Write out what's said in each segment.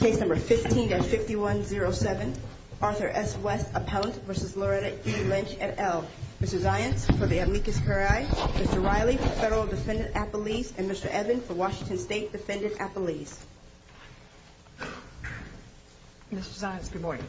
Case number 15-5107, Arthur S. West, Appellant v. Loretta E. Lynch, et al. Mr. Zients, for the amicus curiae. Mr. Riley, for Federal Defendant Appellees. And Mr. Evan, for Washington State Defendant Appellees. Mr. Zients, good morning.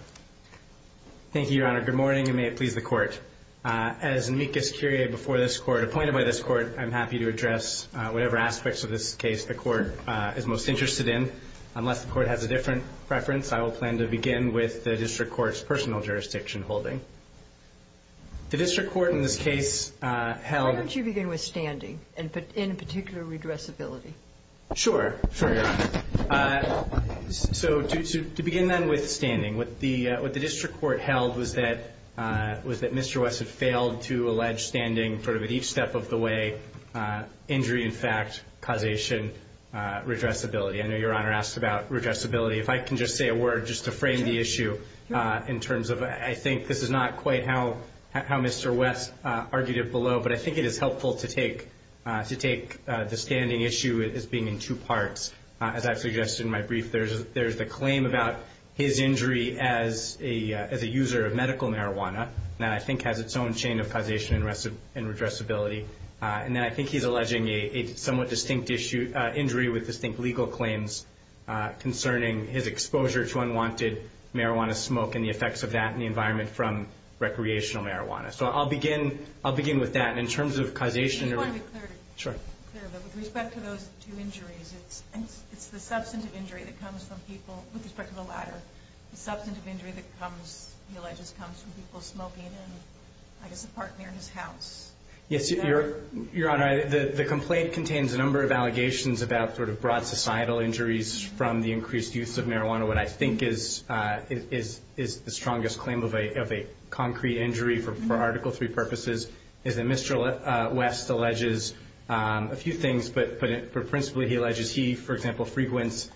Thank you, Your Honor. Good morning, and may it please the Court. As amicus curiae before this Court, appointed by this Court, I'm happy to address whatever aspects of this case the Court is most interested in. Unless the Court has a different preference, I will plan to begin with the District Court's personal jurisdiction holding. The District Court in this case held... Why don't you begin with standing, and in particular, redressability? Sure, Your Honor. So, to begin then with standing. What the District Court held was that Mr. West had failed to allege standing at each step of the way, injury in fact, causation, redressability. I know Your Honor asked about redressability. If I can just say a word just to frame the issue in terms of... I think this is not quite how Mr. West argued it below, but I think it is helpful to take the standing issue as being in two parts. As I've suggested in my brief, there's the claim about his injury as a user of medical marijuana that I think has its own chain of causation and redressability. And then I think he's alleging a somewhat distinct injury with distinct legal claims concerning his exposure to unwanted marijuana smoke and the effects of that in the environment from recreational marijuana. So I'll begin with that. In terms of causation... I just want to be clear. Sure. With respect to those two injuries, it's the substantive injury that comes from people, with respect to the latter, the substantive injury that he alleges comes from people smoking in, I guess, a park near his house. Yes, Your Honor, the complaint contains a number of allegations about sort of broad societal injuries from the increased use of marijuana. What I think is the strongest claim of a concrete injury for Article III purposes is that Mr. West alleges a few things, but principally he alleges he, for example, frequents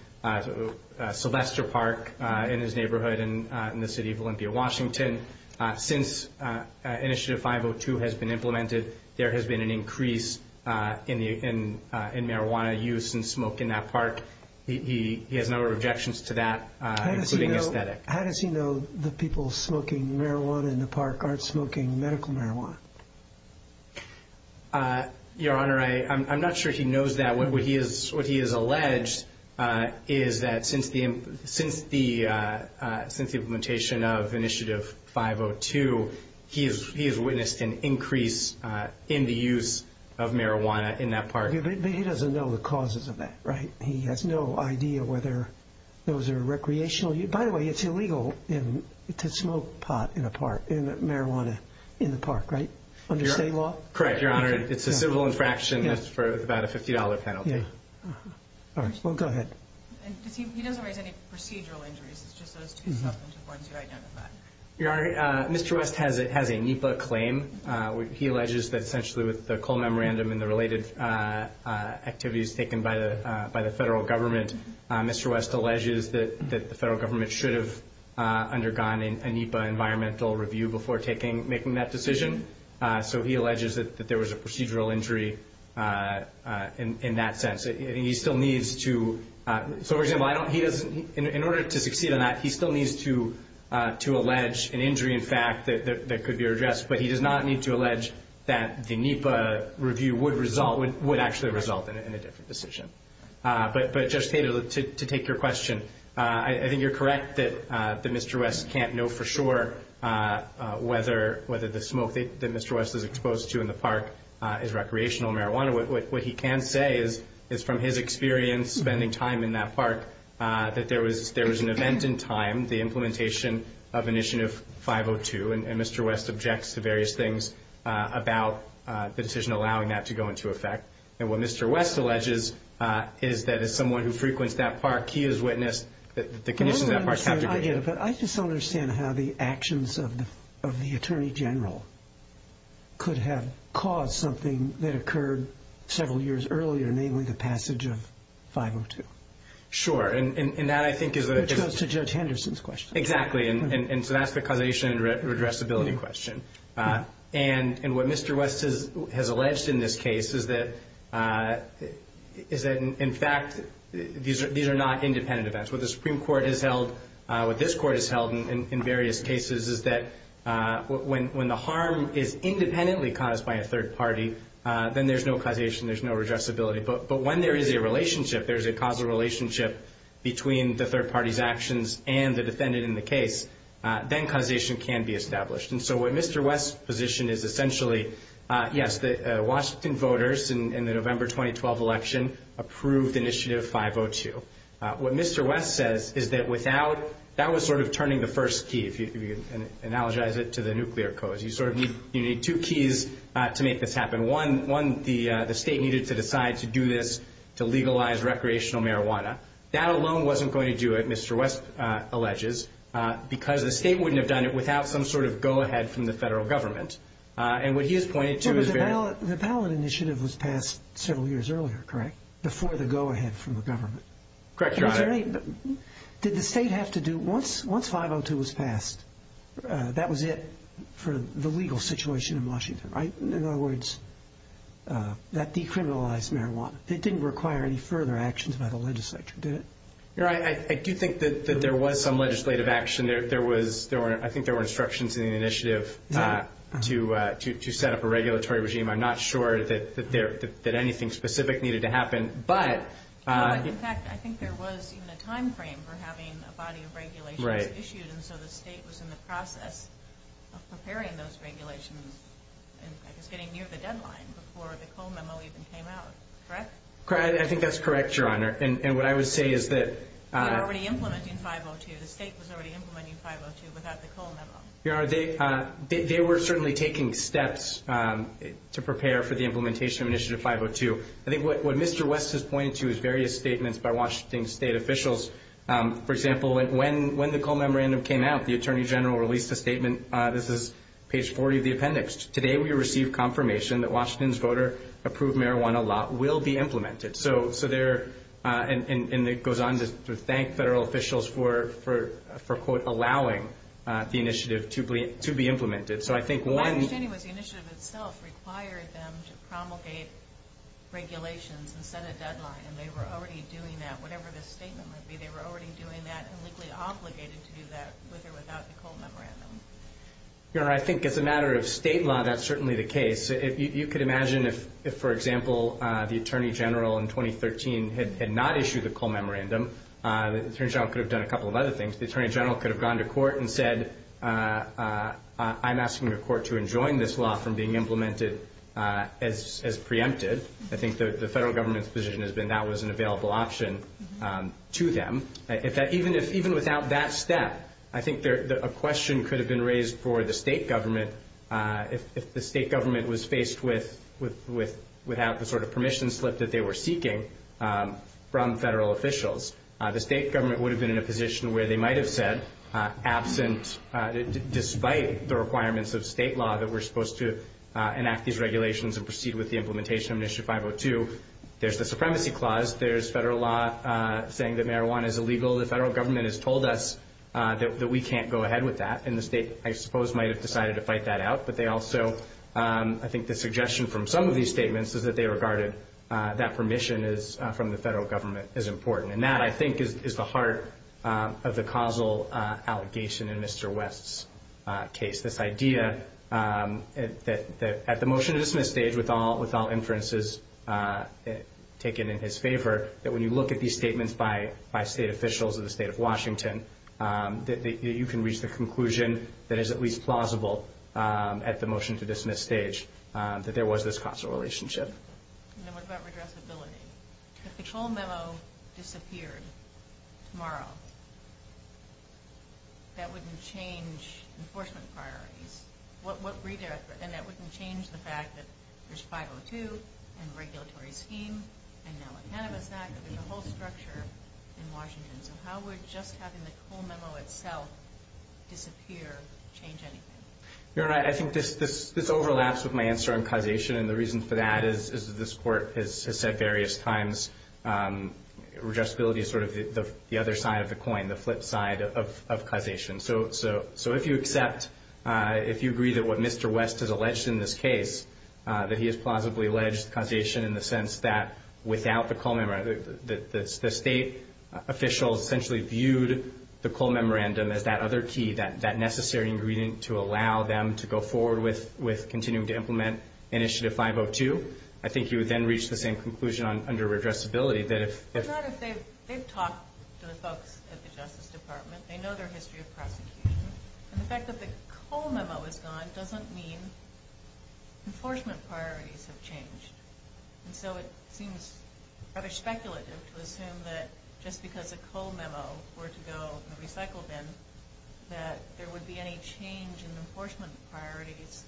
Sylvester Park in his neighborhood in the city of Olympia, Washington. Since Initiative 502 has been implemented, there has been an increase in marijuana use and smoke in that park. He has a number of objections to that, including aesthetic. How does he know the people smoking marijuana in the park aren't smoking medical marijuana? Your Honor, I'm not sure he knows that. What he has alleged is that since the implementation of Initiative 502, he has witnessed an increase in the use of marijuana in that park. But he doesn't know the causes of that, right? He has no idea whether those are recreational. By the way, it's illegal to smoke pot in a park, in marijuana in the park, right? Under state law? Correct, Your Honor. It's a civil infraction. That's for about a $50 penalty. All right. Well, go ahead. He doesn't raise any procedural injuries. It's just those two substantive ones you identified. Your Honor, Mr. West has a NEPA claim. He alleges that essentially with the coal memorandum and the related activities taken by the federal government, Mr. West alleges that the federal government should have undergone a NEPA environmental review before making that decision. So he alleges that there was a procedural injury in that sense. He still needs to – so, for example, in order to succeed on that, he still needs to allege an injury, in fact, that could be addressed. But he does not need to allege that the NEPA review would actually result in a different decision. But, Judge Taylor, to take your question, I think you're correct that Mr. West can't know for sure whether the smoke that Mr. West is exposed to in the park is recreational marijuana. What he can say is, from his experience spending time in that park, that there was an event in time, the implementation of Initiative 502, and Mr. West objects to various things about the decision allowing that to go into effect. And what Mr. West alleges is that as someone who frequents that park, he has witnessed the conditions of that park. I get it, but I just don't understand how the actions of the Attorney General could have caused something that occurred several years earlier, namely the passage of 502. Sure. Which goes to Judge Henderson's question. Exactly. And so that's the causation and redressability question. And what Mr. West has alleged in this case is that, in fact, these are not independent events. What the Supreme Court has held, what this Court has held in various cases, is that when the harm is independently caused by a third party, then there's no causation, there's no redressability. But when there is a relationship, there's a causal relationship between the third party's actions and the defendant in the case, then causation can be established. And so what Mr. West's position is essentially, yes, the Washington voters in the November 2012 election approved Initiative 502. What Mr. West says is that without – that was sort of turning the first key, if you can analogize it, to the nuclear codes. You need two keys to make this happen. One, the state needed to decide to do this to legalize recreational marijuana. That alone wasn't going to do it, Mr. West alleges, because the state wouldn't have done it without some sort of go-ahead from the federal government. And what he has pointed to is very – The ballot initiative was passed several years earlier, correct, before the go-ahead from the government? Correct, Your Honor. Did the state have to do – once 502 was passed, that was it for the legal situation in Washington, right? In other words, that decriminalized marijuana. It didn't require any further actions by the legislature, did it? Your Honor, I do think that there was some legislative action. There was – I think there were instructions in the initiative to set up a regulatory regime. I'm not sure that anything specific needed to happen, but – In fact, I think there was even a timeframe for having a body of regulations issued. And so the state was in the process of preparing those regulations and was getting near the deadline before the Cole Memo even came out, correct? I think that's correct, Your Honor. And what I would say is that – They were already implementing 502. The state was already implementing 502 without the Cole Memo. Your Honor, they were certainly taking steps to prepare for the implementation of initiative 502. I think what Mr. West has pointed to is various statements by Washington state officials. For example, when the Cole Memorandum came out, the Attorney General released a statement. This is page 40 of the appendix. Today we received confirmation that Washington's voter-approved marijuana law will be implemented. So there – and it goes on to thank federal officials for, quote, allowing the initiative to be implemented. So I think one – My understanding was the initiative itself required them to promulgate regulations and set a deadline, and they were already doing that. Whatever the statement might be, they were already doing that and legally obligated to do that with or without the Cole Memorandum. Your Honor, I think as a matter of state law, that's certainly the case. You could imagine if, for example, the Attorney General in 2013 had not issued the Cole Memorandum, the Attorney General could have done a couple of other things. The Attorney General could have gone to court and said, I'm asking the court to enjoin this law from being implemented as preempted. I think the federal government's position has been that was an available option to them. Even without that step, I think a question could have been raised for the state government if the state government was faced with – without the sort of permission slip that they were seeking from federal officials. The state government would have been in a position where they might have said, absent – despite the requirements of state law that we're supposed to enact these regulations and proceed with the implementation of Initiative 502, there's the Supremacy Clause, there's federal law saying that marijuana is illegal, the federal government has told us that we can't go ahead with that. And the state, I suppose, might have decided to fight that out. But they also – I think the suggestion from some of these statements is that they regarded that permission is – from the federal government is important. And that, I think, is the heart of the causal allegation in Mr. West's case. This idea that at the motion-to-dismiss stage, with all inferences taken in his favor, that when you look at these statements by state officials of the state of Washington, that you can reach the conclusion that is at least plausible at the motion-to-dismiss stage that there was this causal relationship. And then what about redressability? If the toll memo disappeared tomorrow, that wouldn't change enforcement priorities. And that wouldn't change the fact that there's 502 and regulatory scheme and now a Cannabis Act and the whole structure in Washington. So how would just having the toll memo itself disappear change anything? Your Honor, I think this overlaps with my answer on causation. And the reason for that is, as this Court has said various times, redressability is sort of the other side of the coin, the flip side of causation. So if you accept – if you agree that what Mr. West has alleged in this case, that he has plausibly alleged causation in the sense that without the toll memo – that the state officials essentially viewed the toll memorandum as that other key, that necessary ingredient to allow them to go forward with continuing to implement Initiative 502, I think you would then reach the same conclusion under redressability that if – But not if they've talked to the folks at the Justice Department. They know their history of prosecution. And the fact that the toll memo is gone doesn't mean enforcement priorities have changed. And so it seems rather speculative to assume that just because a toll memo were to go from the recycle bin that there would be any change in enforcement priorities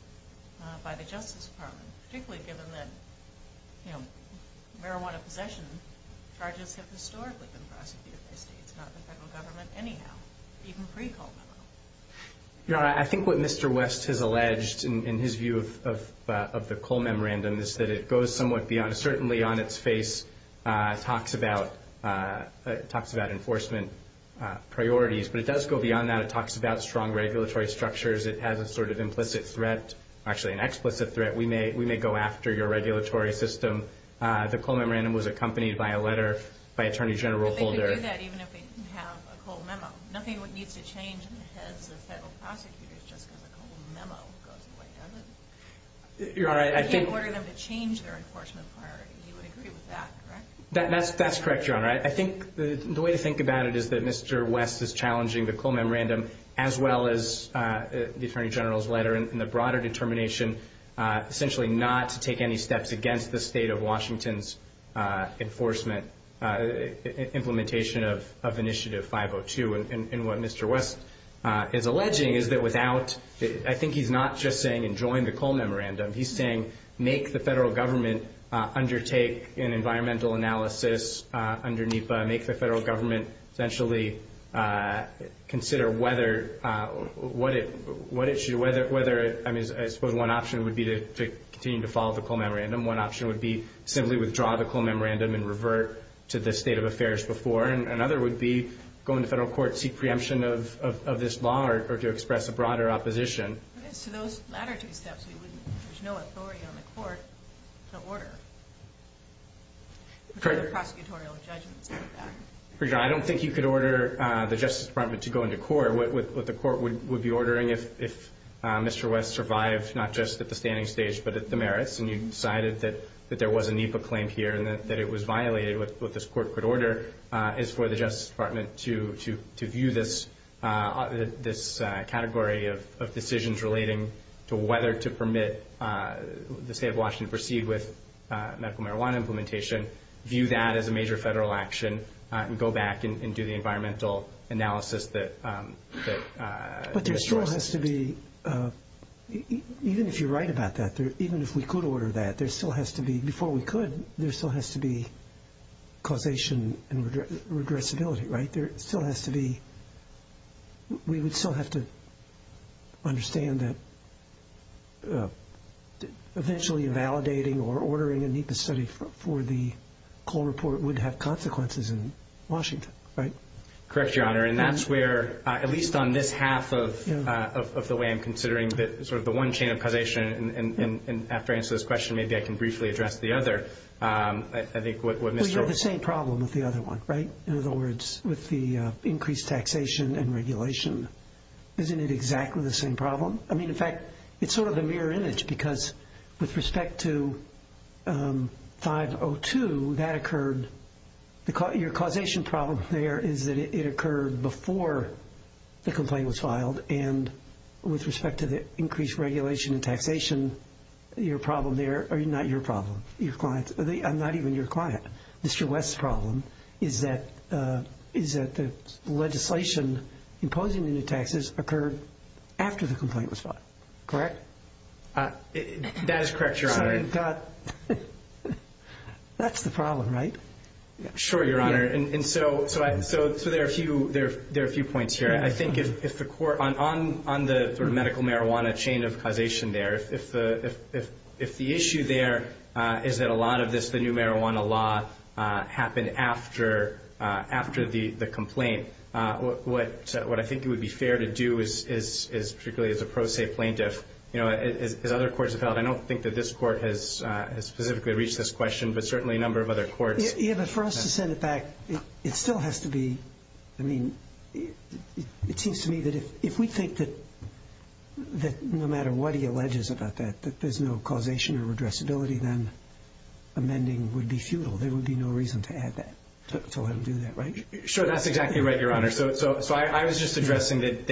by the Justice Department, particularly given that marijuana possession charges have historically been prosecuted by states, not the federal government anyhow, even pre-toll memo. Your Honor, I think what Mr. West has alleged in his view of the coal memorandum is that it goes somewhat beyond – talks about enforcement priorities, but it does go beyond that. It talks about strong regulatory structures. It has a sort of implicit threat, actually an explicit threat. We may go after your regulatory system. The coal memorandum was accompanied by a letter by Attorney General Holder. But they could do that even if they didn't have a coal memo. Nothing needs to change in the heads of federal prosecutors just because a coal memo goes away, doesn't it? Your Honor, I think – That's correct, Your Honor. I think the way to think about it is that Mr. West is challenging the coal memorandum as well as the Attorney General's letter and the broader determination essentially not to take any steps against the state of Washington's enforcement implementation of Initiative 502. And what Mr. West is alleging is that without – I think he's not just saying enjoy the coal memorandum. He's saying make the federal government undertake an environmental analysis under NEPA, make the federal government essentially consider whether – I suppose one option would be to continue to follow the coal memorandum. One option would be simply withdraw the coal memorandum and revert to the state of affairs before. Another would be go into federal court, seek preemption of this law or to express a broader opposition. But as to those latter two steps, there's no authority on the court to order the prosecutorial judgments on that. Your Honor, I don't think you could order the Justice Department to go into court. What the court would be ordering if Mr. West survived not just at the standing stage but at the merits and you decided that there was a NEPA claim here and that it was violated, is for the Justice Department to view this category of decisions relating to whether to permit the state of Washington to proceed with medical marijuana implementation, view that as a major federal action, and go back and do the environmental analysis that Mr. West – But there still has to be – even if you're right about that, even if we could order that, there still has to be – before we could, there still has to be causation and regressibility, right? There still has to be – we would still have to understand that eventually validating or ordering a NEPA study for the coal report would have consequences in Washington, right? Correct, Your Honor. And that's where, at least on this half of the way I'm considering sort of the one chain of causation, and after I answer this question, maybe I can briefly address the other. I think what Mr. – Well, you have the same problem with the other one, right? In other words, with the increased taxation and regulation. Isn't it exactly the same problem? I mean, in fact, it's sort of a mirror image because with respect to 502, that occurred – your causation problem there is that it occurred before the complaint was filed, and with respect to the increased regulation and taxation, your problem there – or not your problem, your client's – I'm not even your client. Mr. West's problem is that the legislation imposing the new taxes occurred after the complaint was filed. Correct? That is correct, Your Honor. So I've got – that's the problem, right? Sure, Your Honor. And so there are a few points here. I think if the court – on the sort of medical marijuana chain of causation there, if the issue there is that a lot of this, the new marijuana law, happened after the complaint, what I think it would be fair to do is, particularly as a pro se plaintiff, as other courts have held, I don't think that this court has specifically reached this question, but certainly a number of other courts. Yeah, but for us to send it back, it still has to be – I mean, it seems to me that if we think that no matter what he alleges about that, that there's no causation or addressability, then amending would be futile. There would be no reason to add that, to let him do that, right? Sure, that's exactly right, Your Honor. So I was just addressing that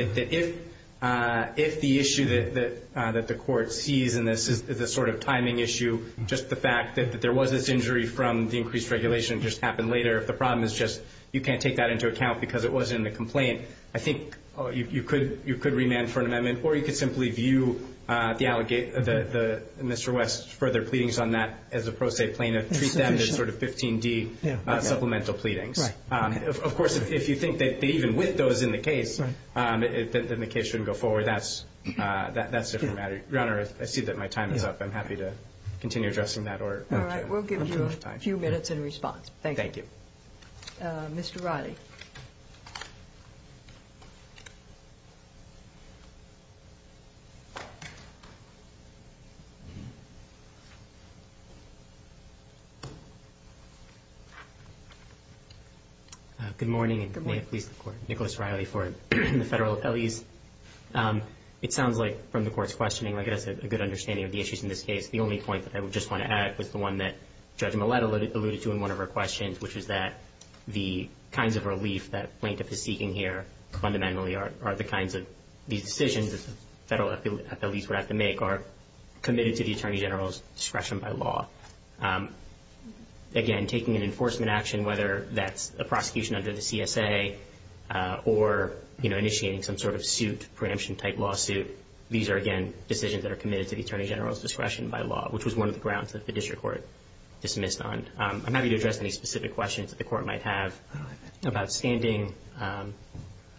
if the issue that the court sees in this is a sort of timing issue, just the fact that there was this injury from the increased regulation and it just happened later, if the problem is just you can't take that into account because it wasn't in the complaint, I think you could remand for an amendment, or you could simply view Mr. West's further pleadings on that as a pro se plaintiff, treat them as sort of 15D supplemental pleadings. Right. Of course, if you think that even with those in the case, then the case shouldn't go forward, that's a different matter. Your Honor, I see that my time is up. I'm happy to continue addressing that. All right, we'll give you a few minutes in response. Thank you. Thank you. Mr. Riley. Good morning, and may it please the Court. Nicholas Riley for the federal LEs. It sounds like from the Court's questioning, like I said, a good understanding of the issues in this case. The only point that I would just want to add was the one that Judge Millett alluded to in one of her questions, which is that the kinds of relief that plaintiff is seeking here fundamentally are the kinds of decisions that the federal LEs would have to make are committed to the Attorney General's discretion by law. Again, taking an enforcement action, whether that's a prosecution under the CSA or initiating some sort of suit, preemption-type lawsuit, these are, again, decisions that are committed to the Attorney General's discretion by law, which was one of the grounds that the district court dismissed on. I'm happy to address any specific questions that the Court might have about standing,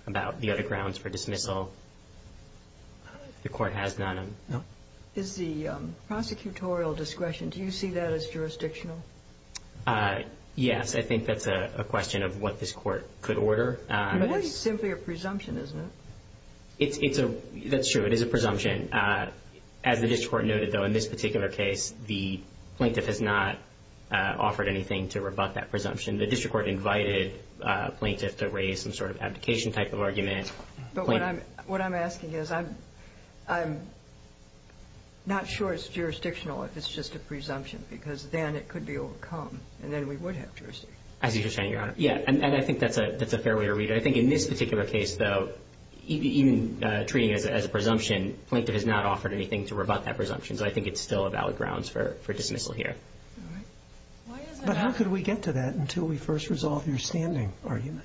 about the other grounds for dismissal. The Court has none. Is the prosecutorial discretion, do you see that as jurisdictional? Yes. I think that's a question of what this Court could order. But it's simply a presumption, isn't it? That's true. It is a presumption. As the district court noted, though, in this particular case, the plaintiff has not offered anything to rebut that presumption. The district court invited a plaintiff to raise some sort of abdication-type of argument. But what I'm asking is I'm not sure it's jurisdictional if it's just a presumption because then it could be overcome, and then we would have jurisdiction. As you just said, Your Honor. Yeah. And I think that's a fair way to read it. I think in this particular case, though, even treating it as a presumption, the plaintiff has not offered anything to rebut that presumption. So I think it's still a valid grounds for dismissal here. All right. But how could we get to that until we first resolve your standing argument?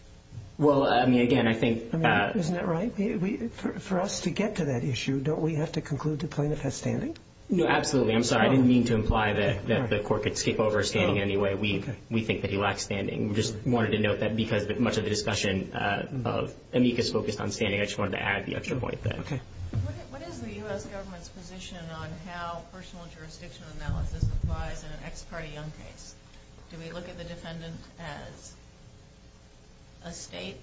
Well, I mean, again, I think that – Isn't that right? For us to get to that issue, don't we have to conclude the plaintiff has standing? No, absolutely. I'm sorry. I didn't mean to imply that the court could skip over standing in any way. We think that he lacks standing. We just wanted to note that because much of the discussion of amicus focused on standing, I just wanted to add the extra point there. Okay. What is the U.S. government's position on how personal jurisdiction analysis applies in an ex parte young case? Do we look at the defendant as a state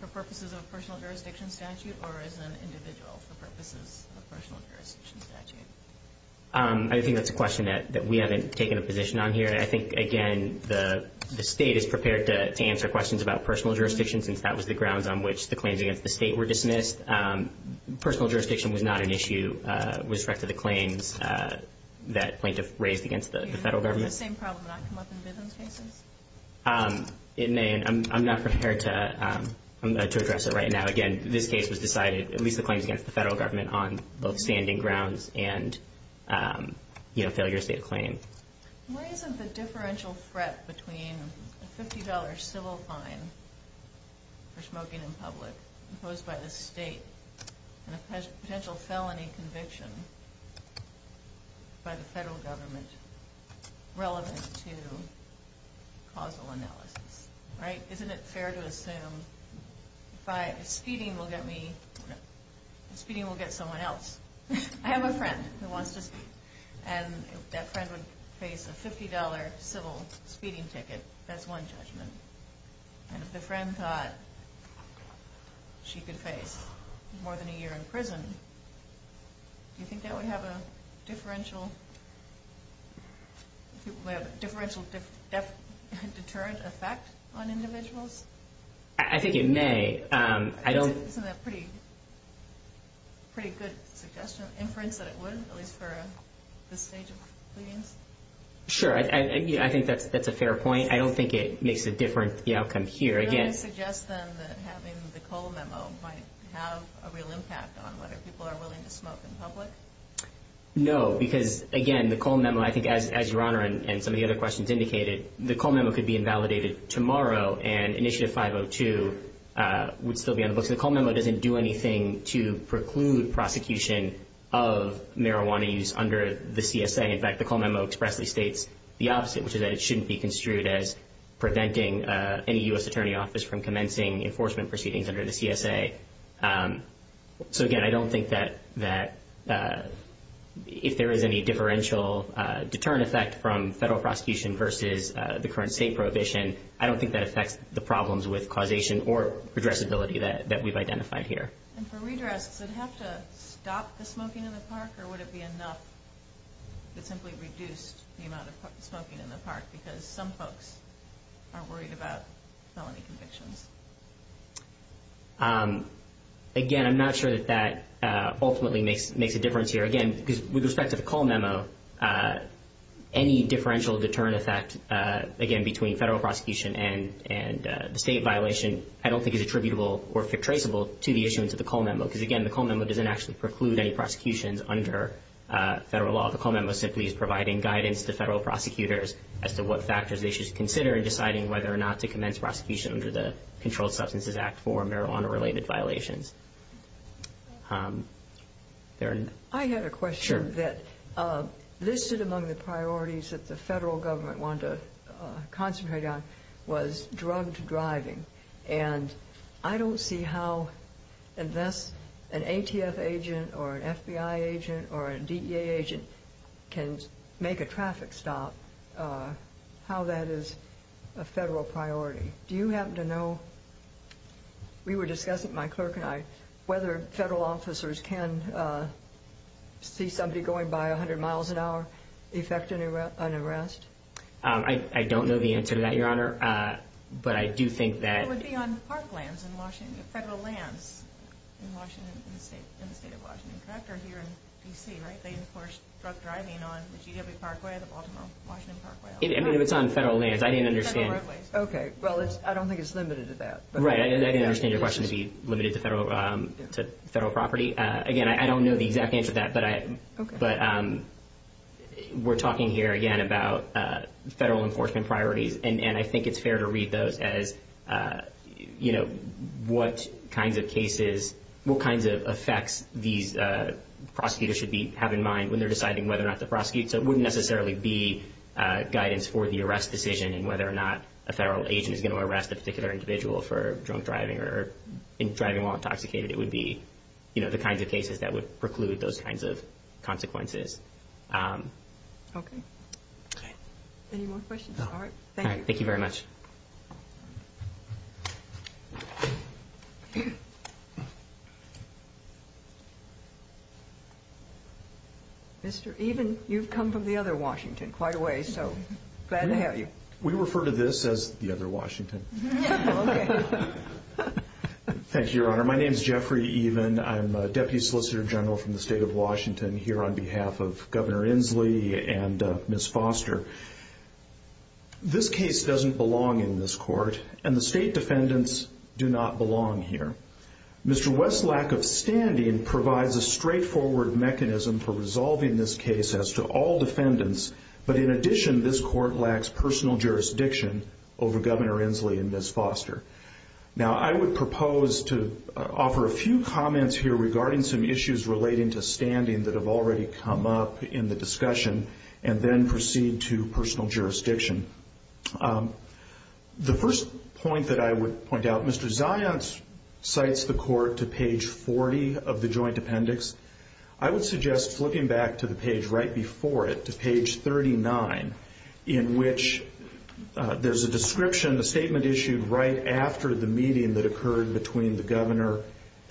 for purposes of a personal jurisdiction statute or as an individual for purposes of a personal jurisdiction statute? I think that's a question that we haven't taken a position on here. I think, again, the state is prepared to answer questions about personal jurisdiction since that was the grounds on which the claims against the state were dismissed. Personal jurisdiction was not an issue with respect to the claims that plaintiff raised against the federal government. Would the same problem not come up in business cases? It may, and I'm not prepared to address it right now. Again, this case was decided, at least the claims against the federal government, on both standing grounds and failure to state a claim. Why isn't the differential threat between a $50 civil fine for smoking in public imposed by the state and a potential felony conviction by the federal government relevant to causal analysis? Isn't it fair to assume that speeding will get someone else? I have a friend who wants to speed, and if that friend would face a $50 civil speeding ticket, that's one judgment. And if the friend thought she could face more than a year in prison, do you think that would have a differential deterrent effect on individuals? I think it may. Isn't that a pretty good suggestion, inference, that it would, at least for this stage of pleadings? Sure, I think that's a fair point. I don't think it makes a difference, the outcome here. Do you really suggest, then, that having the Cole Memo might have a real impact on whether people are willing to smoke in public? No, because, again, the Cole Memo, I think, as Your Honor and some of the other questions indicated, the Cole Memo could be invalidated tomorrow, and Initiative 502 would still be on the books. The Cole Memo doesn't do anything to preclude prosecution of marijuana use under the CSA. In fact, the Cole Memo expressly states the opposite, which is that it shouldn't be construed as preventing any U.S. attorney office from commencing enforcement proceedings under the CSA. So, again, I don't think that if there is any differential deterrent effect from federal prosecution versus the current state prohibition, I don't think that affects the problems with causation or addressability that we've identified here. And for redress, does it have to stop the smoking in the park, or would it be enough if it simply reduced the amount of smoking in the park, because some folks are worried about felony convictions? Again, I'm not sure that that ultimately makes a difference here. Again, with respect to the Cole Memo, any differential deterrent effect, again, between federal prosecution and the state violation, I don't think is attributable or traceable to the issuance of the Cole Memo, because, again, the Cole Memo doesn't actually preclude any prosecutions under federal law. The Cole Memo simply is providing guidance to federal prosecutors as to what factors they should consider in deciding whether or not to commence prosecution under the Controlled Substances Act for marijuana-related violations. I had a question that listed among the priorities that the federal government wanted to concentrate on was drugged driving, and I don't see how unless an ATF agent or an FBI agent or a DEA agent can make a traffic stop, how that is a federal priority. Do you happen to know, we were discussing with my clerk and I, whether federal officers can see somebody going by 100 miles an hour effect an arrest? I don't know the answer to that, Your Honor, but I do think that... It would be on park lands in Washington, federal lands in the state of Washington, correct, or here in D.C., right? They enforce drug driving on the GW Parkway, the Baltimore-Washington Parkway. It's on federal lands. I didn't understand. Okay, well, I don't think it's limited to that. Right, I didn't understand your question to be limited to federal property. Again, I don't know the exact answer to that, but we're talking here, again, about federal enforcement priorities, and I think it's fair to read those as, you know, what kinds of cases, what kinds of effects these prosecutors should have in mind when they're deciding whether or not to prosecute. So it wouldn't necessarily be guidance for the arrest decision and whether or not a federal agent is going to arrest a particular individual for drunk driving or driving while intoxicated. It would be, you know, the kinds of cases that would preclude those kinds of consequences. Okay. Any more questions? All right, thank you. All right, thank you very much. Mr. Even, you've come from the other Washington quite a ways, so glad to have you. We refer to this as the other Washington. Okay. Thank you, Your Honor. My name is Jeffrey Even. I'm a Deputy Solicitor General from the State of Washington here on behalf of Governor Inslee and Ms. Foster. This case doesn't belong in this court. And the state defendants do not belong here. Mr. West's lack of standing provides a straightforward mechanism for resolving this case as to all defendants. But in addition, this court lacks personal jurisdiction over Governor Inslee and Ms. Foster. Now, I would propose to offer a few comments here regarding some issues relating to standing that have already come up in the discussion and then proceed to personal jurisdiction. The first point that I would point out, Mr. Zions cites the court to page 40 of the joint appendix. I would suggest flipping back to the page right before it, to page 39, in which there's a description, a statement issued right after the meeting that occurred between the Governor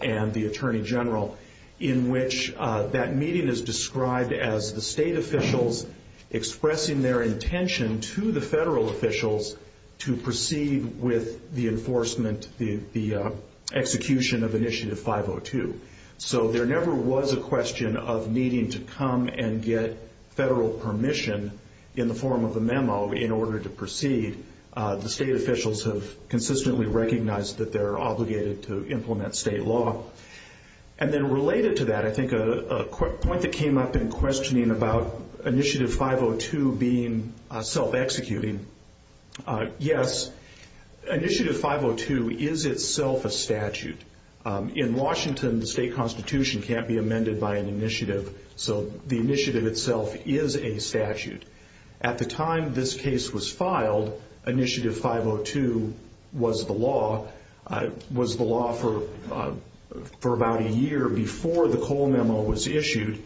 and the Attorney General, in which that meeting is described as the state officials expressing their intention to the federal officials to proceed with the enforcement, the execution of Initiative 502. So there never was a question of needing to come and get federal permission in the form of a memo in order to proceed. The state officials have consistently recognized that they're obligated to implement state law. And then related to that, I think a point that came up in questioning about Initiative 502 being self-executing, yes, Initiative 502 is itself a statute. In Washington, the state constitution can't be amended by an initiative, so the initiative itself is a statute. At the time this case was filed, Initiative 502 was the law for about a year before the Cole memo was issued.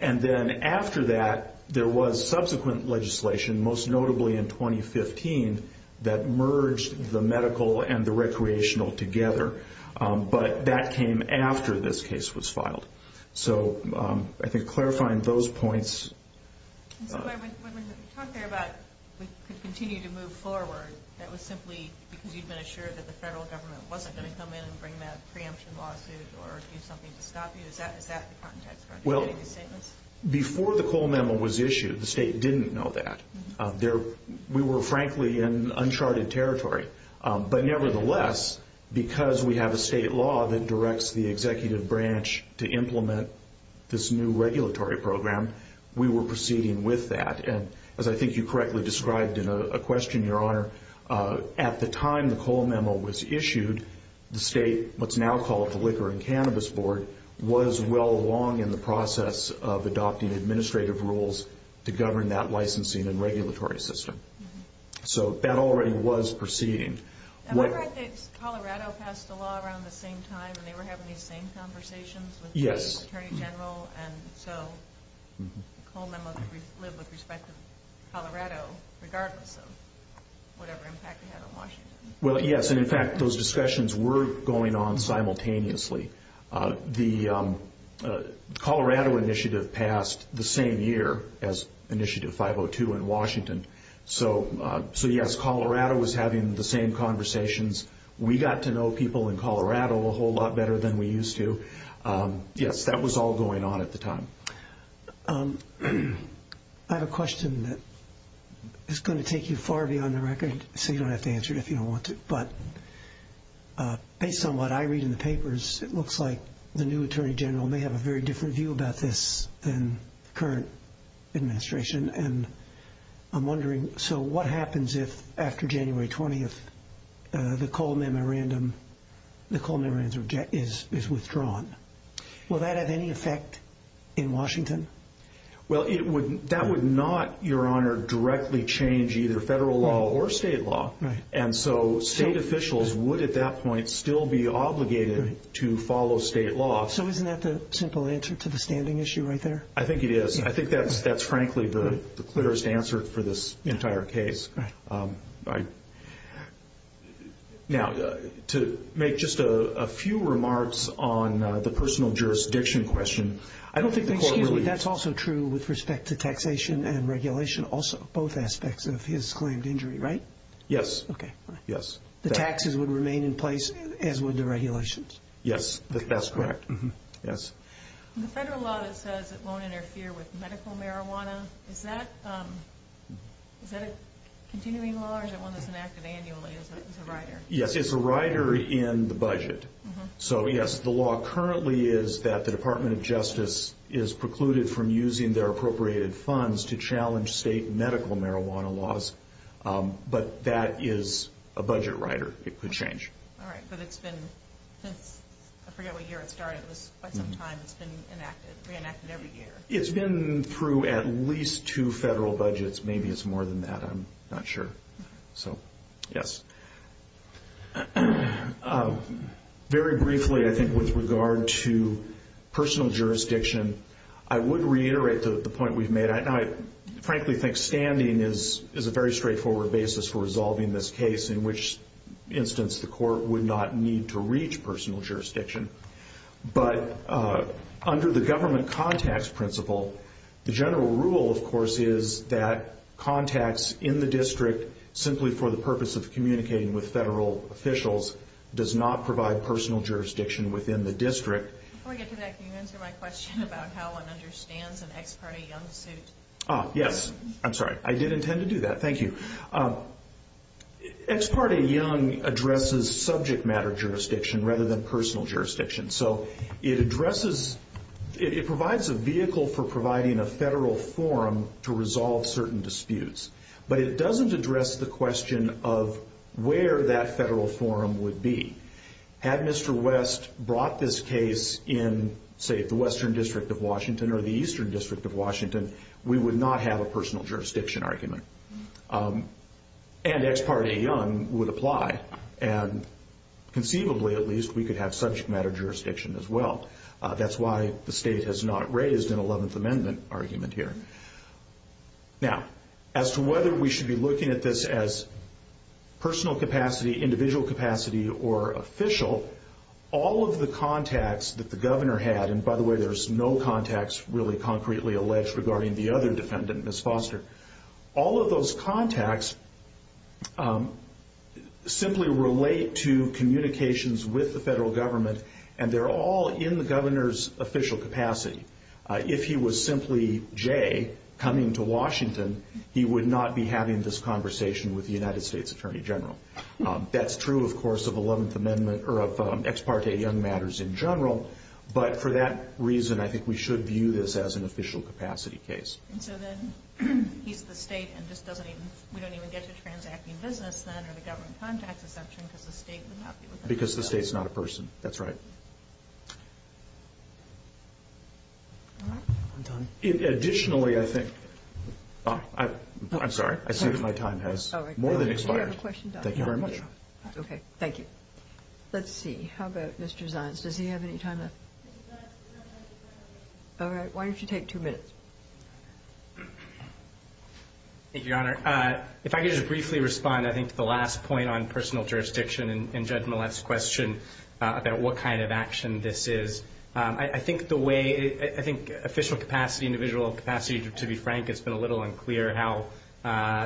And then after that, there was subsequent legislation, most notably in 2015, that merged the medical and the recreational together. But that came after this case was filed. So I think clarifying those points. When you talk there about we could continue to move forward, that was simply because you'd been assured that the federal government wasn't going to come in and bring that preemption lawsuit or do something to stop you? Is that the context for getting these statements? Before the Cole memo was issued, the state didn't know that. We were, frankly, in uncharted territory. But nevertheless, because we have a state law that directs the executive branch to implement this new regulatory program, we were proceeding with that. And as I think you correctly described in a question, Your Honor, at the time the Cole memo was issued, the state, what's now called the Liquor and Cannabis Board, was well along in the process of adopting administrative rules to govern that licensing and regulatory system. So that already was proceeding. Am I correct that Colorado passed a law around the same time and they were having these same conversations with the Attorney General? Yes. And so the Cole memo lived with respect to Colorado, regardless of whatever impact it had on Washington? Well, yes. And, in fact, those discussions were going on simultaneously. The Colorado initiative passed the same year as Initiative 502 in Washington. So, yes, Colorado was having the same conversations. We got to know people in Colorado a whole lot better than we used to. Yes, that was all going on at the time. I have a question that is going to take you far beyond the record, so you don't have to answer it if you don't want to. But based on what I read in the papers, it looks like the new Attorney General may have a very different view about this than the current administration. And I'm wondering, so what happens if, after January 20th, the Cole memorandum is withdrawn? Will that have any effect in Washington? Well, that would not, Your Honor, directly change either federal law or state law. And so state officials would, at that point, still be obligated to follow state law. So isn't that the simple answer to the standing issue right there? I think it is. I think that's, frankly, the clearest answer for this entire case. Now, to make just a few remarks on the personal jurisdiction question. That's also true with respect to taxation and regulation, both aspects of his claimed injury, right? Yes. The taxes would remain in place, as would the regulations? Yes, that's correct. The federal law that says it won't interfere with medical marijuana, is that a continuing law or is it one that's enacted annually as a rider? Yes, it's a rider in the budget. So, yes, the law currently is that the Department of Justice is precluded from using their appropriated funds to challenge state medical marijuana laws. But that is a budget rider. It could change. All right. But it's been, I forget what year it started. It was quite some time. It's been reenacted every year. It's been through at least two federal budgets. Maybe it's more than that. I'm not sure. So, yes. Very briefly, I think, with regard to personal jurisdiction, I would reiterate the point we've made. I frankly think standing is a very straightforward basis for resolving this case, in which instance the court would not need to reach personal jurisdiction. But under the government contacts principle, the general rule, of course, is that contacts in the district, simply for the purpose of communicating with federal officials, does not provide personal jurisdiction within the district. Before we get to that, can you answer my question about how one understands an Ex Parte Young suit? Yes. I'm sorry. I did intend to do that. Thank you. Ex Parte Young addresses subject matter jurisdiction rather than personal jurisdiction. So it addresses, it provides a vehicle for providing a federal forum to resolve certain disputes. But it doesn't address the question of where that federal forum would be. Had Mr. West brought this case in, say, the Western District of Washington or the Eastern District of Washington, we would not have a personal jurisdiction argument. And Ex Parte Young would apply. And conceivably, at least, we could have subject matter jurisdiction as well. That's why the state has not raised an Eleventh Amendment argument here. Now, as to whether we should be looking at this as personal capacity, individual capacity, or official, all of the contacts that the governor had, and, by the way, there's no contacts really concretely alleged regarding the other defendant, Ms. Foster, all of those contacts simply relate to communications with the federal government, and they're all in the governor's official capacity. If he was simply Jay coming to Washington, he would not be having this conversation with the United States Attorney General. That's true, of course, of Eleventh Amendment, or of Ex Parte Young matters in general. But for that reason, I think we should view this as an official capacity case. And so then he's the state, and we don't even get to transacting business then, or the government contacts assumption, because the state would not be looking at that? Because the state's not a person. That's right. All right. I'm done. Additionally, I think – I'm sorry. I see that my time has more than expired. All right. Do you have a question, Doctor? Thank you very much. Okay. Thank you. Let's see. How about Mr. Zions? Does he have any time left? All right. Why don't you take two minutes? Thank you, Your Honor. If I could just briefly respond, I think, to the last point on personal jurisdiction and Judge Millett's question about what kind of action this is. I think the way – I think official capacity, individual capacity, to be frank, it's been a little unclear how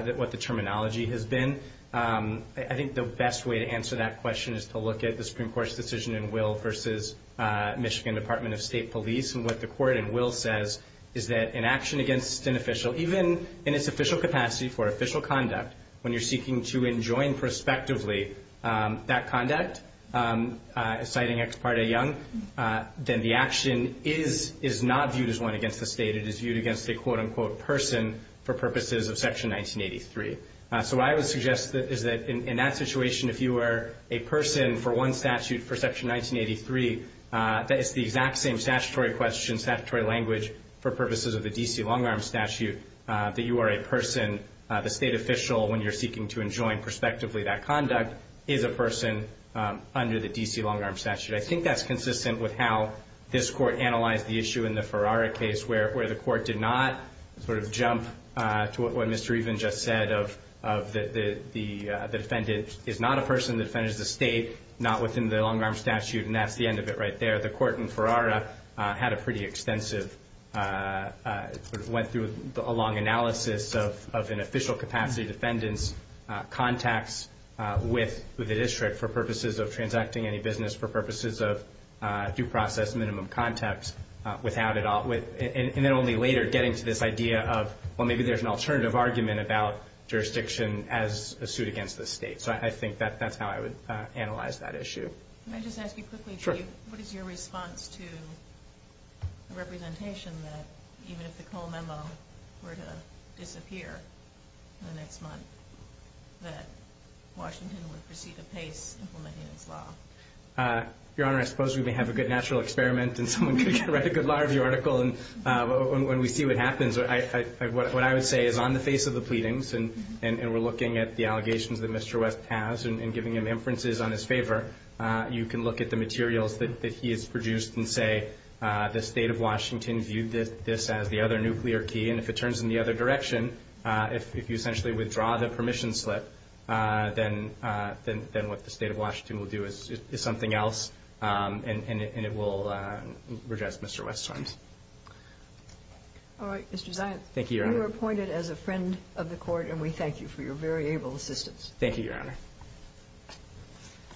– what the terminology has been. I think the best way to answer that question is to look at the Supreme Court's decision in Will versus Michigan Department of State Police. And what the court in Will says is that in action against an official, even in its official capacity for official conduct, when you're seeking to enjoin prospectively that conduct, citing Ex Parte Young, then the action is not viewed as one against the state. It is viewed against a, quote-unquote, person for purposes of Section 1983. So what I would suggest is that in that situation, if you were a person for one statute for Section 1983, that it's the exact same statutory question, statutory language, for purposes of the D.C. long-arm statute, that you are a person, the state official when you're seeking to enjoin prospectively that conduct, is a person under the D.C. long-arm statute. I think that's consistent with how this court analyzed the issue in the Ferrara case, where the court did not sort of jump to what Mr. Even just said of the defendant is not a person, the defendant is the state, not within the long-arm statute, and that's the end of it right there. The court in Ferrara had a pretty extensive, sort of went through a long analysis of an official capacity defendant's contacts with the district for purposes of transacting any business, for purposes of due process minimum contacts, and then only later getting to this idea of, well, maybe there's an alternative argument about jurisdiction as a suit against the state. So I think that that's how I would analyze that issue. Can I just ask you quickly, Chief? Sure. What is your response to the representation that even if the Cole memo were to disappear in the next month, that Washington would proceed apace implementing this law? Your Honor, I suppose we may have a good natural experiment and someone could write a good law review article, and when we see what happens, what I would say is on the face of the pleadings, and we're looking at the allegations that Mr. West has and giving him inferences on his favor, you can look at the materials that he has produced and say the State of Washington viewed this as the other nuclear key, and if it turns in the other direction, if you essentially withdraw the permission slip, then what the State of Washington will do is something else, and it will redress Mr. West's terms. Mr. Zients. Thank you, Your Honor. You are appointed as a friend of the Court, and we thank you for your very able assistance. Thank you, Your Honor.